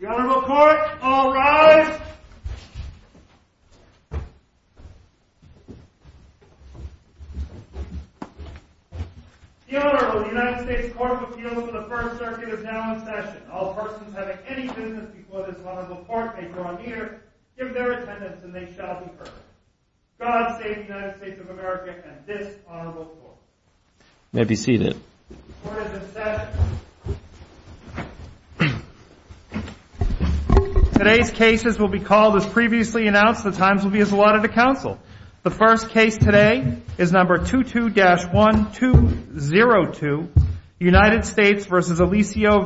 The Honorable Court, all rise! The Honorable United States Court of Appeals of the First Circuit is now in session. All persons having any business before this Honorable Court may draw near, give their attendance, and they shall be heard. God save the United States of America and this Honorable Court. You may be seated. The Court is in session. Today's cases will be called as previously announced. The times will be as allotted to counsel. The first case today is number 22-1202, United States v. Alicio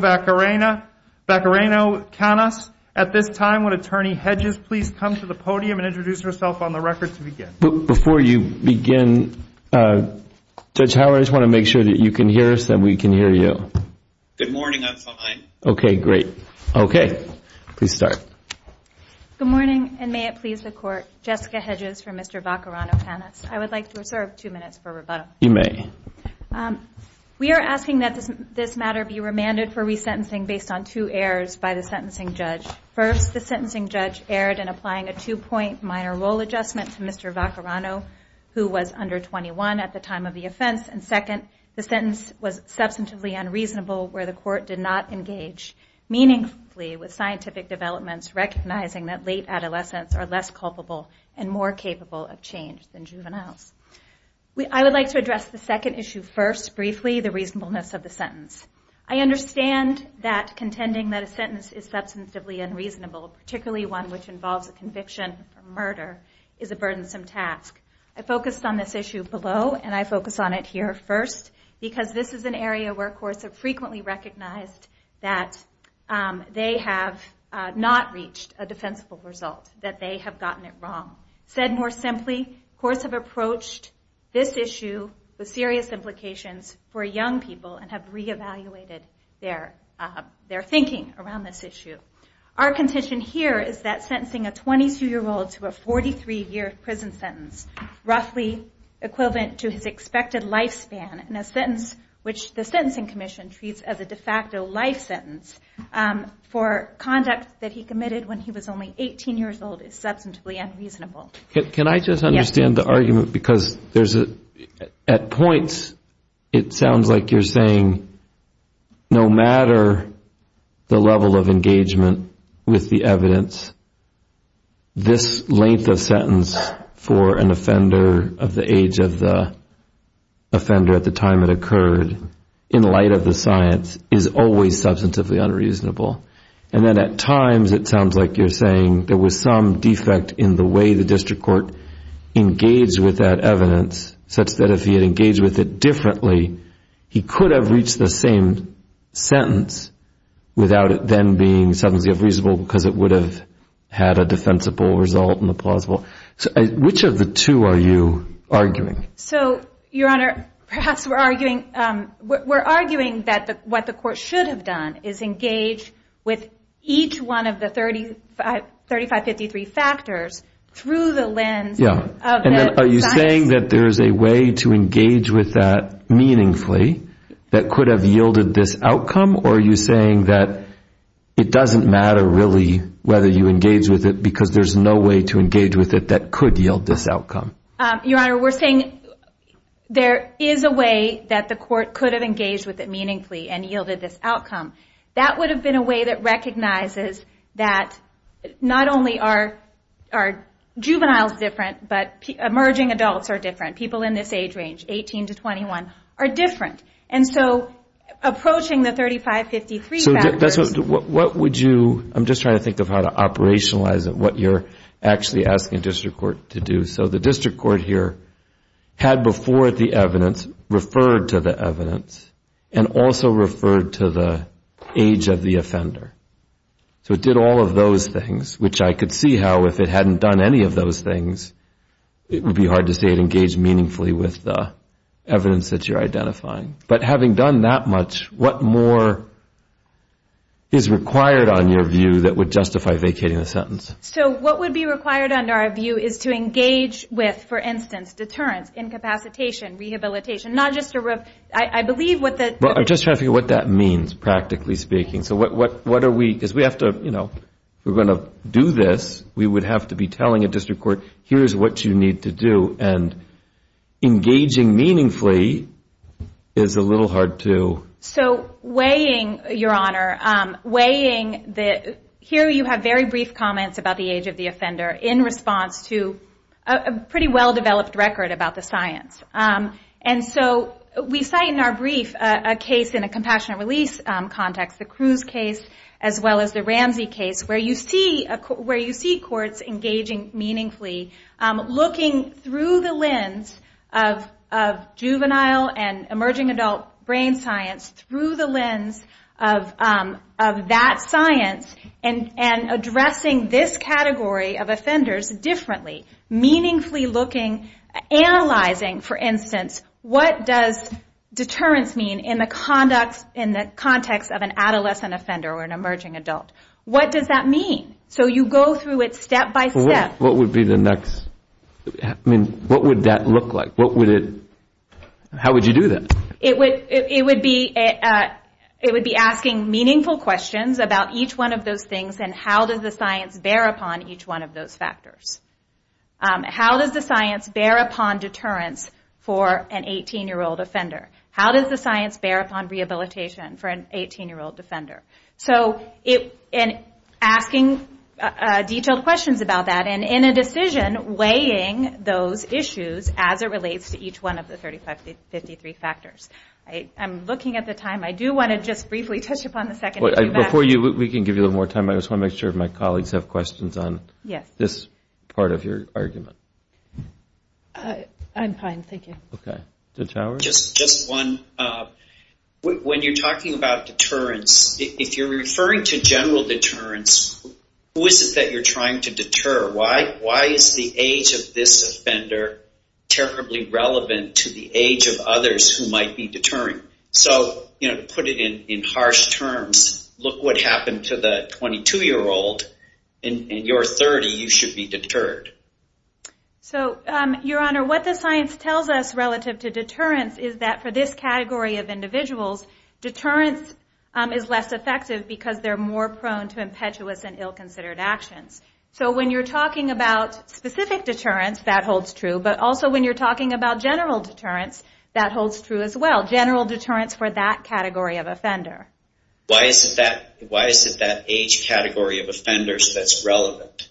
Vaquerano Canas. At this time, would Attorney Hedges please come to the podium and introduce herself on the record to begin? Before you begin, Judge Howard, I just want to make sure that you can hear us and we can hear you. Good morning. I'm fine. Okay, great. Okay, please start. Good morning, and may it please the Court, Jessica Hedges for Mr. Vaquerano Canas. I would like to reserve two minutes for rebuttal. You may. We are asking that this matter be remanded for resentencing based on two errors by the sentencing judge. First, the sentencing judge erred in applying a two-point minor role adjustment to Mr. Vaquerano, who was under 21 at the time of the offense. And second, the sentence was substantively unreasonable where the court did not engage meaningfully with scientific developments, recognizing that late adolescents are less culpable and more capable of change than juveniles. I would like to address the second issue first briefly, the reasonableness of the sentence. I understand that contending that a sentence is substantively unreasonable, particularly one which involves a conviction for murder, is a burdensome task. I focused on this issue below, and I focus on it here first, because this is an area where courts have frequently recognized that they have not reached a defensible result, that they have gotten it wrong. Said more simply, courts have approached this issue with serious implications for young people and have re-evaluated their thinking around this issue. Our contention here is that sentencing a 22-year-old to a 43-year prison sentence, roughly equivalent to his expected lifespan in a sentence which the Sentencing Commission treats as a de facto life sentence, for conduct that he committed when he was only 18 years old, is substantively unreasonable. Can I just understand the argument? At points, it sounds like you're saying no matter the level of engagement with the evidence, this length of sentence for an offender of the age of the offender at the time it occurred, in light of the science, is always substantively unreasonable. And then at times, it sounds like you're saying there was some defect in the way the district court engaged with that evidence such that if he had engaged with it differently, he could have reached the same sentence without it then being substantively unreasonable because it would have had a defensible result in the plausible. Which of the two are you arguing? So, Your Honor, perhaps we're arguing that what the court should have done is engage with each one of the 3553 factors through the lens of the science. Are you saying that there's a way to engage with that meaningfully that could have yielded this outcome? Or are you saying that it doesn't matter really whether you engage with it because there's no way to engage with it that could yield this outcome? Your Honor, we're saying there is a way that the court could have engaged with it meaningfully and yielded this outcome. That would have been a way that recognizes that not only are juveniles different, but emerging adults are different. People in this age range, 18 to 21, are different. And so, approaching the 3553 factors... I'm just trying to think of how to operationalize it, what you're actually asking district court to do. So the district court here had before it the evidence, referred to the evidence, and also referred to the age of the offender. So it did all of those things, which I could see how if it hadn't done any of those things, it would be hard to say it engaged meaningfully with the evidence that you're identifying. But having done that much, what more is required on your view that would justify vacating the sentence? So what would be required under our view is to engage with, for instance, deterrence, incapacitation, rehabilitation, not just to... I believe what the... Well, I'm just trying to figure out what that means, practically speaking. So what are we... because we have to, you know, if we're going to do this, we would have to be telling a district court, here's what you need to do. And engaging meaningfully is a little hard to... So weighing, Your Honor, weighing the... about the age of the offender in response to a pretty well-developed record about the science. And so we cite in our brief a case in a compassionate release context, the Cruz case as well as the Ramsey case, where you see courts engaging meaningfully, looking through the lens of juvenile and emerging adult brain science, through the lens of that science, and addressing this category of offenders differently. Meaningfully looking, analyzing, for instance, what does deterrence mean in the context of an adolescent offender or an emerging adult. What does that mean? So you go through it step by step. What would be the next... I mean, what would that look like? What would it... how would you do that? It would be asking meaningful questions about each one of those things, and how does the science bear upon each one of those factors. How does the science bear upon deterrence for an 18-year-old offender? How does the science bear upon rehabilitation for an 18-year-old offender? And asking detailed questions about that, and in a decision, weighing those issues as it relates to each one of the 35, 53 factors. I'm looking at the time. I do want to just briefly touch upon the second... Before you... we can give you a little more time. I just want to make sure my colleagues have questions on this part of your argument. I'm fine, thank you. Just one. When you're talking about deterrence, if you're referring to general deterrence, who is it that you're trying to deter? Why is the age of this offender terribly relevant to the age of others who might be deterring? To put it in harsh terms, look what happened to the 22-year-old, and you're 30, you should be deterred. Your Honor, what the science tells us relative to deterrence is that for this category of individuals, deterrence is less effective because they're more prone to impetuous and ill-considered actions. So when you're talking about specific deterrence, that holds true, but also when you're talking about general deterrence, that holds true as well. General deterrence for that category of offender. Why is it that age category of offenders that's relevant?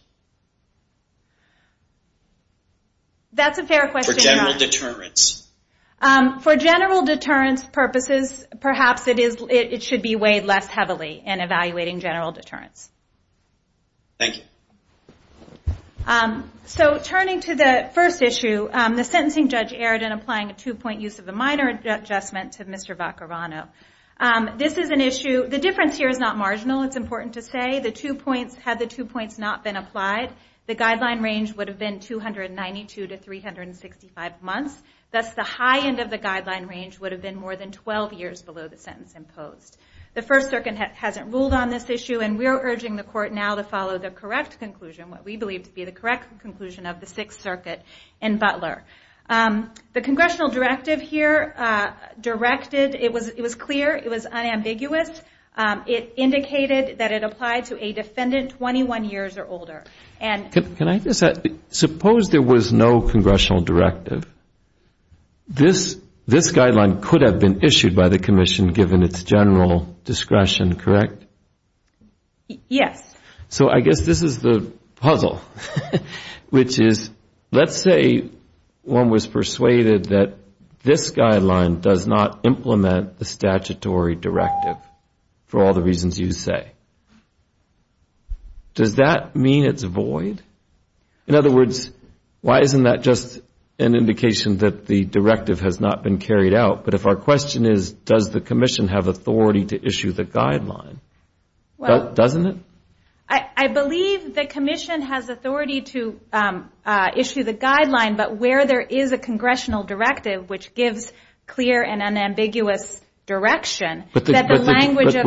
That's a fair question, Your Honor. For general deterrence purposes, perhaps it should be weighed less heavily in evaluating general deterrence. Turning to the first issue, the sentencing judge erred in applying a two-point use of a minor adjustment to Mr. Vacarano. The difference here is not marginal, it's important to say. Had the two points not been applied, the guideline range would have been 292 to 365 months. Thus the high end of the guideline range would have been more than 12 years below the sentence imposed. The First Circuit hasn't ruled on this issue, and we're urging the Court now to follow the correct conclusion, what we believe to be the correct conclusion of the Sixth Circuit in Butler. The Congressional Directive here directed, it was clear, it was unambiguous. It indicated that it applied to a defendant 21 years or older. Can I just add, suppose there was no Congressional Directive. This guideline could have been issued by the Commission given its general discretion, correct? Yes. So I guess this is the puzzle, which is let's say one was persuaded that this guideline does not implement the statutory directive for all the reasons you say. Does that mean it's void? In other words, why isn't that just an indication that the directive has not been carried out? But if our question is, does the Commission have authority to issue the guideline, doesn't it? I believe the Commission has authority to issue the guideline, but where there is a Congressional Directive, which gives clear and unambiguous direction, that the language of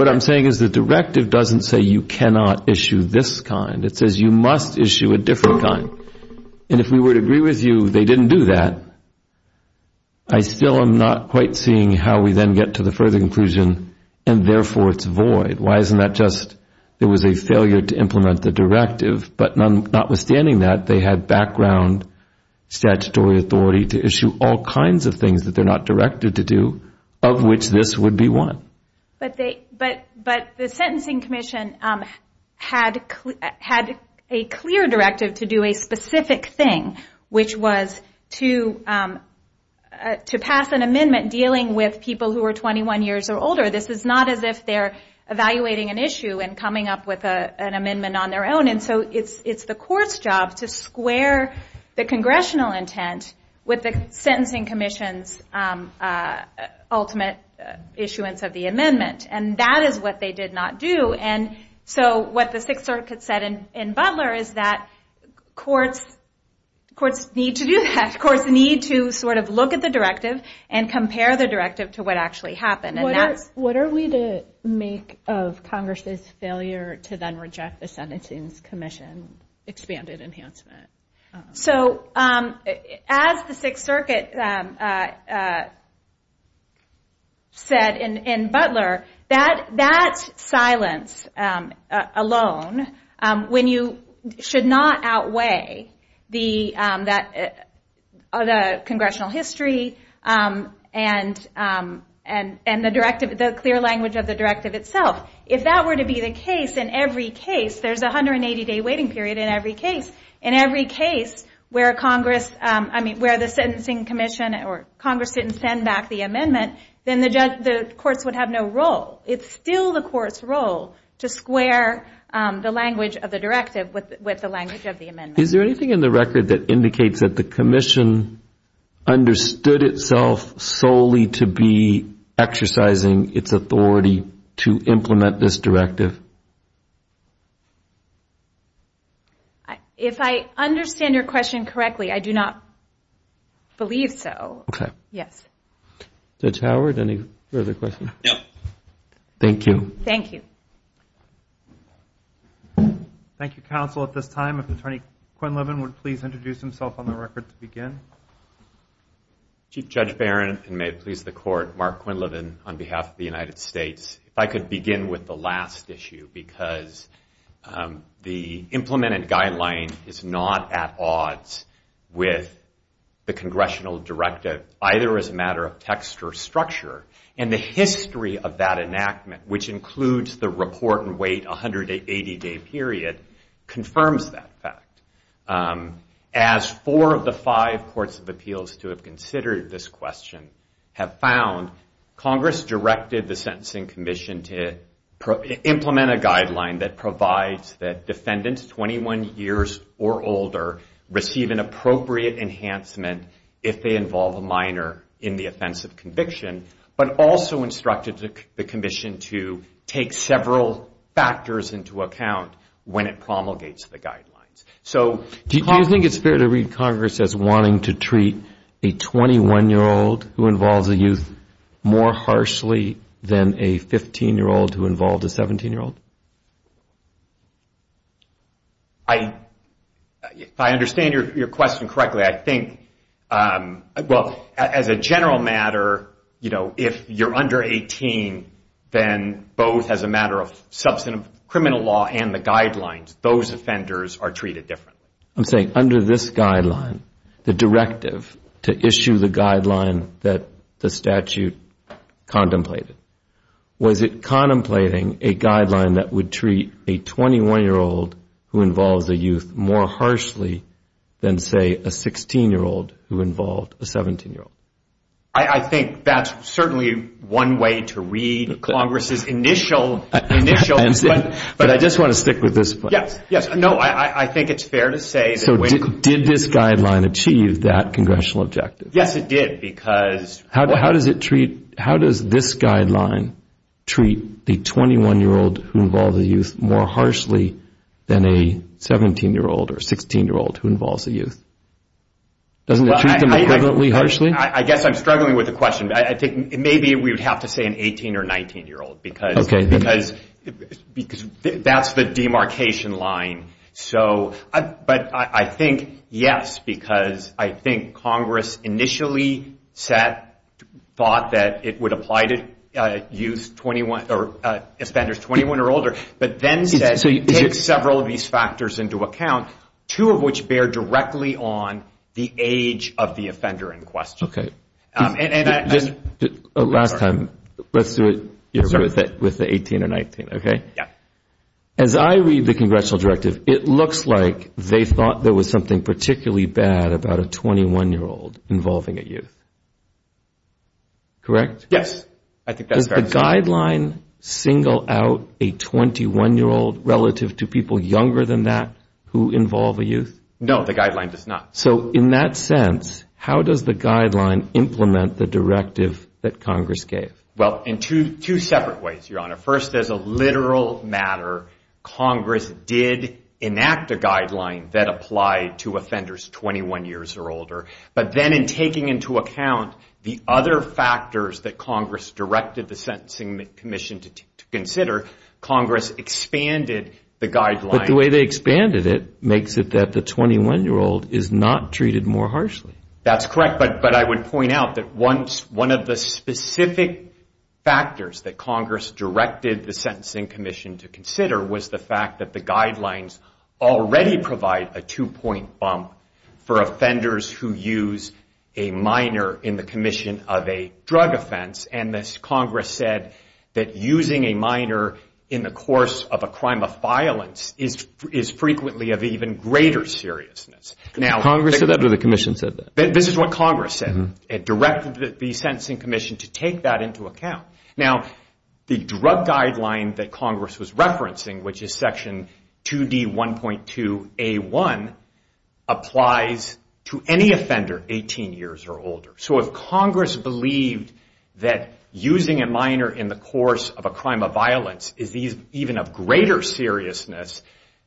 the directive doesn't say you cannot issue this kind. It says you must issue a different kind. And if we were to agree with you they didn't do that, I still am not quite seeing how we then get to the further conclusion and therefore it's void. Why isn't that just there was a failure to implement the directive, but notwithstanding that, they had background statutory authority to issue all kinds of things that they're not directed to do, of which this would be one. But the Sentencing Commission had a clear directive to do a specific thing, which was to pass an amendment dealing with people who are 21 years or older. This is not as if they're evaluating an issue and coming up with an amendment on their own. So it's the Court's job to square the Congressional intent with the Sentencing Commission's ultimate issuance of the amendment. And that is what they did not do. So what the Sixth Circuit said in Butler is that courts need to do that. Courts need to look at the directive and compare the directive to what actually happened. What are we to make of Congress's failure to then reject the Sentencing Commission's expanded enhancement? As the Sixth Circuit said in Butler, that silence alone should not outweigh the Congressional history and the clear language of the directive itself. If that were to be the case in every case, there's a 180-day waiting period in every case, where the Congress didn't send back the amendment, then the courts would have no role. It's still the Court's role to square the language of the directive with the language of the amendment. Is there anything in the record that indicates that the Commission understood itself solely to be exercising its authority to implement this directive? If I understand your question correctly, I do not believe so. Judge Howard, any further questions? Thank you. Chief Judge Barron, and may it please the Court, Mark Quinlivan on behalf of the United States. If I could begin with the last issue, because the implemented guideline is not at odds with the Congressional directive, either as a matter of text or structure, and the history of that enactment, which includes the report and wait 180-day period, confirms that fact. As four of the five courts of appeals to have considered this question have found, Congress directed the Sentencing Commission to implement a guideline that provides that defendants 21 years or older receive an appropriate enhancement if they involve a minor in the offense of conviction, but also instructed the Commission to take several factors into account when it promulgates the guidelines. Do you think it's fair to read Congress as wanting to treat a 21-year-old who involves a youth more harshly than a 15-year-old who involves a minor? If I understand your question correctly, I think, well, as a general matter, if you're under 18, then both as a matter of criminal law and the guidelines, those offenders are treated differently. I'm saying under this guideline, the directive to issue the guideline that the statute contemplated, does it include a 21-year-old who involves a youth more harshly than, say, a 16-year-old who involved a 17-year-old? I think that's certainly one way to read Congress's initial... But I just want to stick with this point. Yes, no, I think it's fair to say... So did this guideline achieve that congressional objective? Yes, it did, because... How does this guideline treat the 21-year-old who involves a youth more harshly than a 17-year-old or 16-year-old who involves a youth? Doesn't it treat them equivalently harshly? I guess I'm struggling with the question. Maybe we would have to say an 18- or 19-year-old, because that's the demarcation line. It initially thought that it would apply to youth, offenders 21 or older, but then said take several of these factors into account, two of which bear directly on the age of the offender in question. Last time, let's do it with the 18 or 19, okay? As I read the congressional directive, it looks like they thought there was something particularly bad about a 21-year-old involving a youth, correct? Yes, I think that's correct. Does the guideline single out a 21-year-old relative to people younger than that who involve a youth? No, the guideline does not. So in that sense, how does the guideline implement the directive that Congress gave? Well, in two separate ways, Your Honor. First, as a literal matter, Congress did enact a guideline that applied to offenders 21 years or older, but then in taking into account the other factors that Congress directed the Sentencing Commission to consider, Congress expanded the guideline. But the way they expanded it makes it that the 21-year-old is not treated more harshly. That's correct, but I would point out that one of the specific factors that Congress directed the Sentencing Commission to consider was the fact that the guidelines already provide a two-point bump for offenders who use a minor in the commission of a drug offense. And Congress said that using a minor in the course of a crime of violence is frequently of even greater seriousness. Congress said that or the commission said that? This is what Congress said. It directed the Sentencing Commission to take that into account. Now, the drug guideline that Congress was referencing, which is Section 2D1.2A1, applies to any offender 18 years or older. So if Congress believed that using a minor in the course of a crime of violence is even of greater seriousness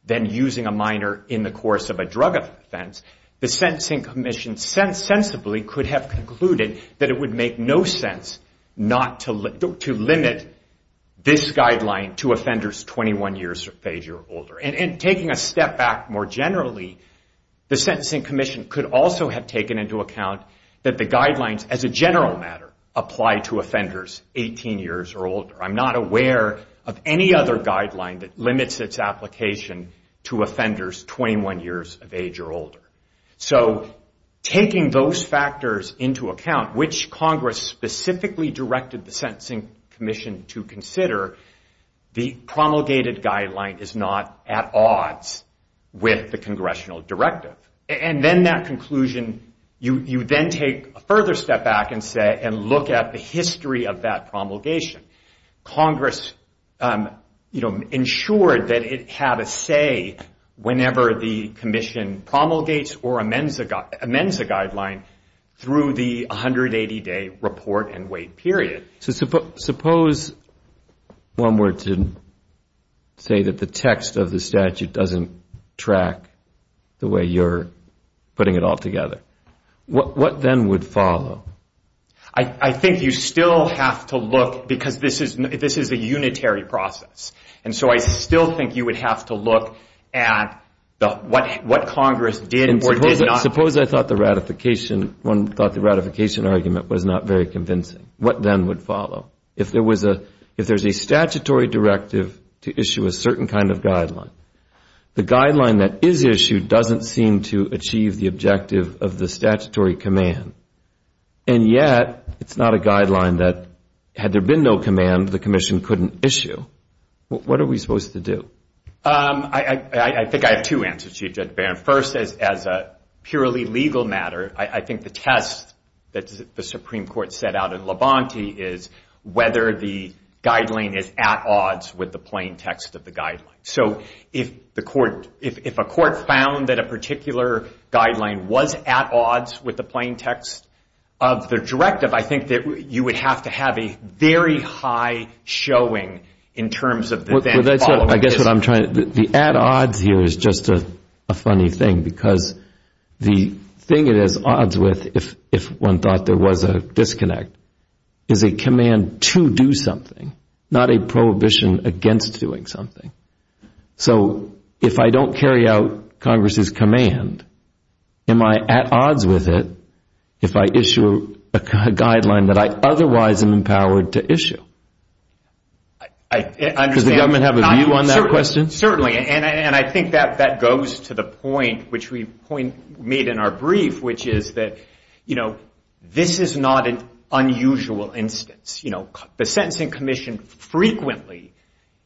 than using a minor in the course of a drug offense, the Sentencing Commission sensibly could have concluded that it would make no sense to limit this guideline to offenders 21 years of age or older. And taking a step back more generally, the Sentencing Commission could also have taken into account that the guidelines, as a general matter, apply to offenders 18 years or older. I'm not aware of any other guideline that limits its application to offenders 21 years of age or older. So taking those factors into account, which Congress specifically directed the Sentencing Commission to consider, the promulgated guideline is not at odds with the congressional directive. And then that conclusion, you then take a further step back and look at the history of that promulgation. Congress ensured that it had a say whenever the commission promulgated the Sentencing Commission. And then it promulgates or amends a guideline through the 180-day report and wait period. So suppose one were to say that the text of the statute doesn't track the way you're putting it all together. What then would follow? I think you still have to look, because this is a unitary process. And so I still think you would have to look at what Congress did or did not. Suppose I thought the ratification, one thought the ratification argument was not very convincing. What then would follow? If there's a statutory directive to issue a certain kind of guideline, the guideline that is issued doesn't seem to achieve the objective of the statutory command. And yet it's not a guideline that, had there been no command, the commission couldn't issue. What are we supposed to do? I think I have two answers to you, Judge Barron. First, as a purely legal matter, I think the test that the Supreme Court set out in Levanti is whether the guideline is at odds with the plain text of the guideline. So if a court found that a particular guideline was at odds with the plain text of the directive, I think that you would have to have a very high showing in terms of the then following. I guess what I'm trying to, the at odds here is just a funny thing, because the thing it is at odds with, if one thought there was a disconnect, is a command to do something, not a prohibition against doing something. So if I don't carry out Congress's command, am I at odds with it if I issue a guideline that I otherwise am empowered to issue? Does the government have a view on that question? Certainly, and I think that goes to the point which we made in our brief, which is that this is not an unusual instance. The Sentencing Commission frequently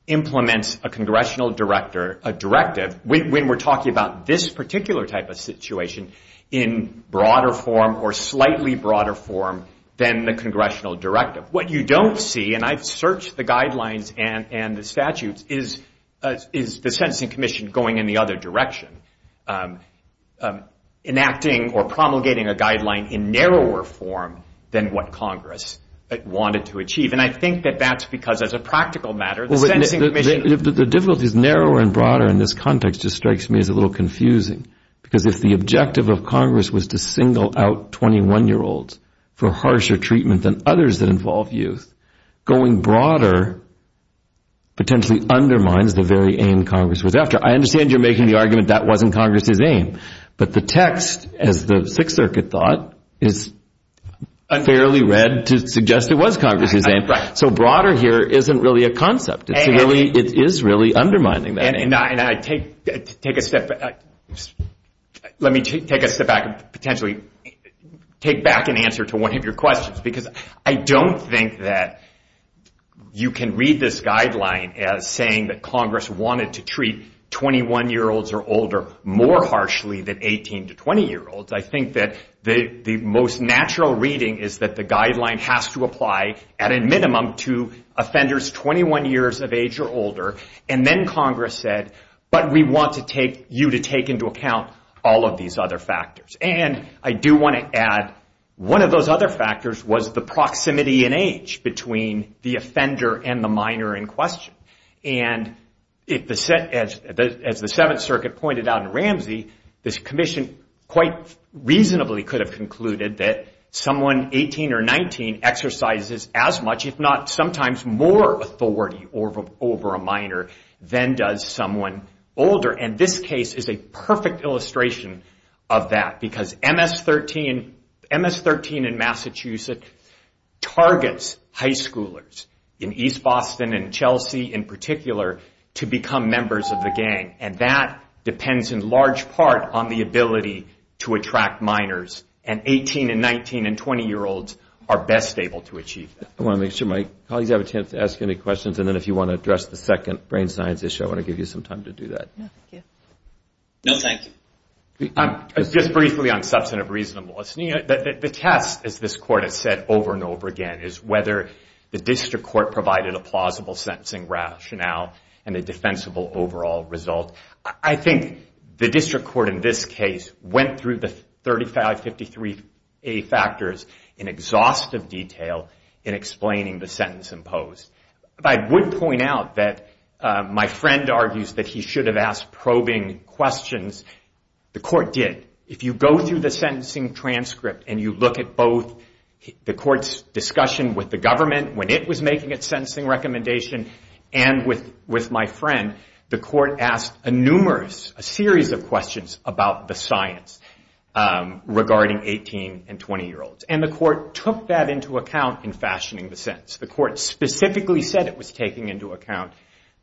implements a congressional directive when we're talking about this particular type of situation in broader form or slightly broader form than the congressional directive. What you don't see, and I've searched the guidelines and the statutes, is the Sentencing Commission going in the other direction, enacting or promulgating a guideline in narrower form than what Congress wanted to do. And I think that that's because, as a practical matter, the Sentencing Commission The difficulty is narrower and broader in this context just strikes me as a little confusing. Because if the objective of Congress was to single out 21-year-olds for harsher treatment than others that involve youth, going broader potentially undermines the very aim Congress was after. I understand you're making the argument that wasn't Congress's aim, but the text, as the Sixth Circuit thought, is fairly read to suggest it was Congress's aim. So broader here isn't really a concept. It is really undermining that aim. Let me take a step back and potentially take back an answer to one of your questions, because I don't think that you can read this guideline as saying that Congress wanted to treat 21-year-olds or older more harshly than 18- to 20-year-olds. I think that the most natural reading is that the guideline has to apply at a minimum to offenders 21 years of age or older, and then Congress said, but we want you to take into account all of these other factors. And I do want to add, one of those other factors was the proximity in age between the offender and the minor in question. And as the Seventh Circuit pointed out in Ramsey, this commission, quite frankly, reasonably could have concluded that someone 18 or 19 exercises as much, if not sometimes more, authority over a minor than does someone older. And this case is a perfect illustration of that, because MS-13 in Massachusetts targets high schoolers in East Boston and Chelsea in particular to become members of the gang. And that depends in large part on the ability to attract minors, and 18- and 19- and 20-year-olds are best able to achieve that. I want to make sure my colleagues have a chance to ask any questions, and then if you want to address the second brain science issue, I want to give you some time to do that. No, thank you. Just briefly on substantive reasonableness. The test, as this Court has said over and over again, is whether the district court provided a plausible sentencing rationale and a defensible overall result. I think the district court in this case went through the 3553A factors in exhaustive detail in explaining the sentence imposed. I would point out that my friend argues that he should have asked probing questions. The court did not. The court did. If you go through the sentencing transcript and you look at both the court's discussion with the government when it was making its sentencing recommendation and with my friend, the court asked numerous, a series of questions about the science regarding 18- and 20-year-olds. And the court took that into account in fashioning the sentence. The court specifically said it was taking into account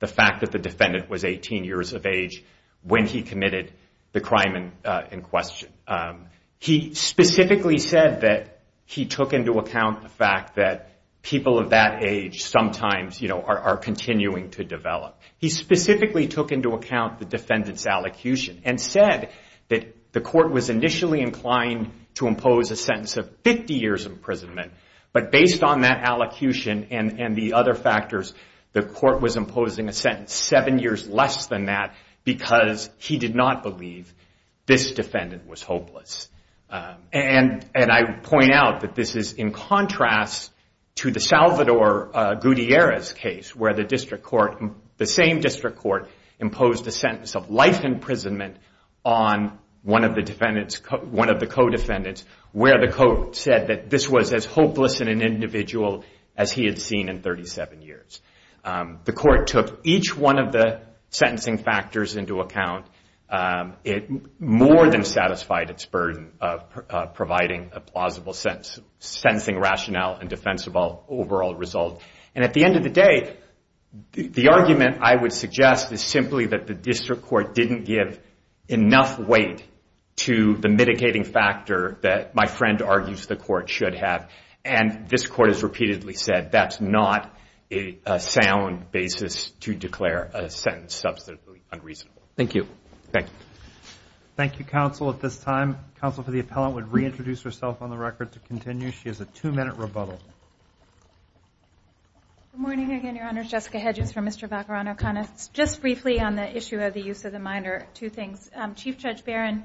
the fact that the defendant was 18 years of age when he committed the crime in question. He specifically said that he took into account the fact that people of that age sometimes are continuing to develop. He specifically took into account the defendant's allocution and said that the court was initially inclined to impose a sentence of 50 years imprisonment, but based on that allocution and the other factors, the court was imposing a sentence seven years less than that because he did not believe this defendant was hopeless. And I point out that this is in contrast to the Salvador Gutierrez case where the same district court imposed a sentence of life imprisonment on one of the co-defendants where the court said that this was as hopeless an individual as he had seen in 37 years. The court took each one of the sentencing factors into account. It more than satisfied its burden of providing a plausible sentence, sentencing rationale and defensible overall result. And at the end of the day, the argument I would suggest is simply that the district court didn't give enough weight to the mitigating factor that my friend argues the court should have. And this court has repeatedly said that's not a sound basis to declare a sentence substantively unreasonable. Thank you. Good morning again, Your Honor. Jessica Hedges from Mr. Vaccarano Connors. Just briefly on the issue of the use of the minor, two things. Chief Judge Barron,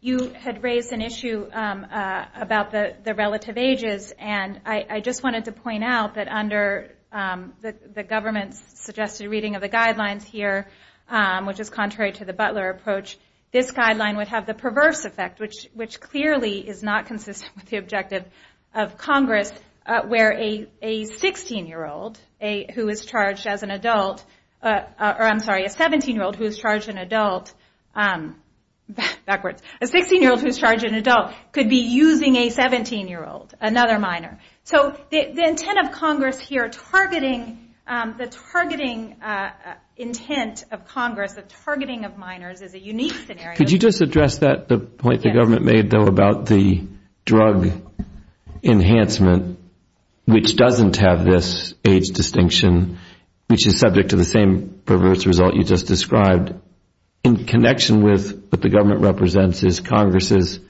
you had raised an issue about the relative ages. And I just wanted to point out that under the government's suggested reading of the guidelines here, which is contrary to the Butler approach, this guideline would have the perverse effect, which clearly is not consistent with the objective of Congress where a 16-year-old who is charged as an adult, or I'm sorry, a 17-year-old who is charged as an adult, backwards, a 16-year-old who is charged as an adult could be using a 17-year-old, another minor. So the intent of Congress here, targeting the targeting intent of Congress, the targeting of minors is a unique scenario. Could you just address that, the point the government made though about the drug enhancement, which doesn't have this age distinction, which is subject to the same perverse result you just described, in connection with what the government represents as Congress's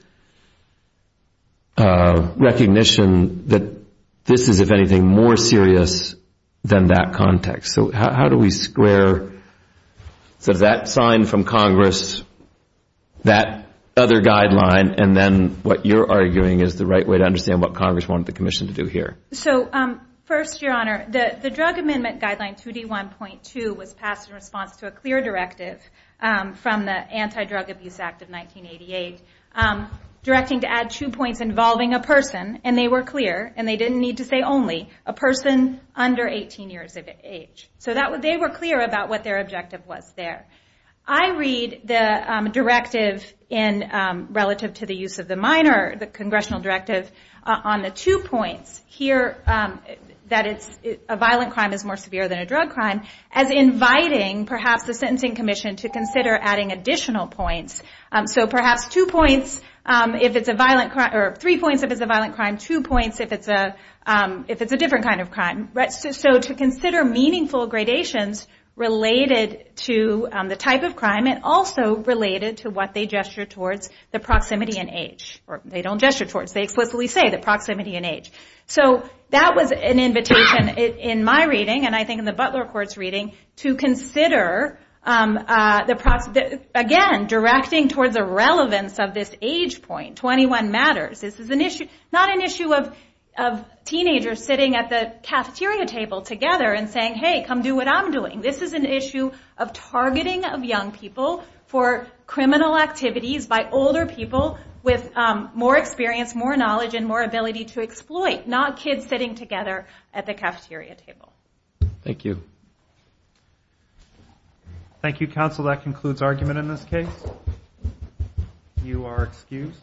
recognition that this is, if anything, more serious than that context? So how do we square that sign from Congress, that other guideline, and then what you're arguing is the right way to understand what Congress wanted the commission to do here? So first, Your Honor, the drug amendment guideline 2D1.2 was passed in response to a clear directive from the Anti-Drug Abuse Act of 1988. Directing to add two points involving a person, and they were clear, and they didn't need to say only, a person under 18 years of age. So they were clear about what their objective was there. I read the directive relative to the use of the minor, the congressional directive, on the two points here, that a violent crime is more severe than a drug crime, as inviting, perhaps, the Sentencing Commission to consider adding additional points. So perhaps two points, if it's a violent crime, or three points if it's a violent crime, two points if it's a different kind of crime. So to consider meaningful gradations related to the type of crime, and also related to what they gesture towards the proximity in age. Or they don't gesture towards, they explicitly say the proximity in age. So that was an invitation in my reading, and I think in the Butler Court's reading, to consider, again, directing to add two points. This is an issue of moving towards a relevance of this age point, 21 matters. This is not an issue of teenagers sitting at the cafeteria table together and saying, hey, come do what I'm doing. This is an issue of targeting of young people for criminal activities by older people with more experience, more knowledge, and more ability to exploit, not kids sitting together at the cafeteria table. Thank you. You are excused.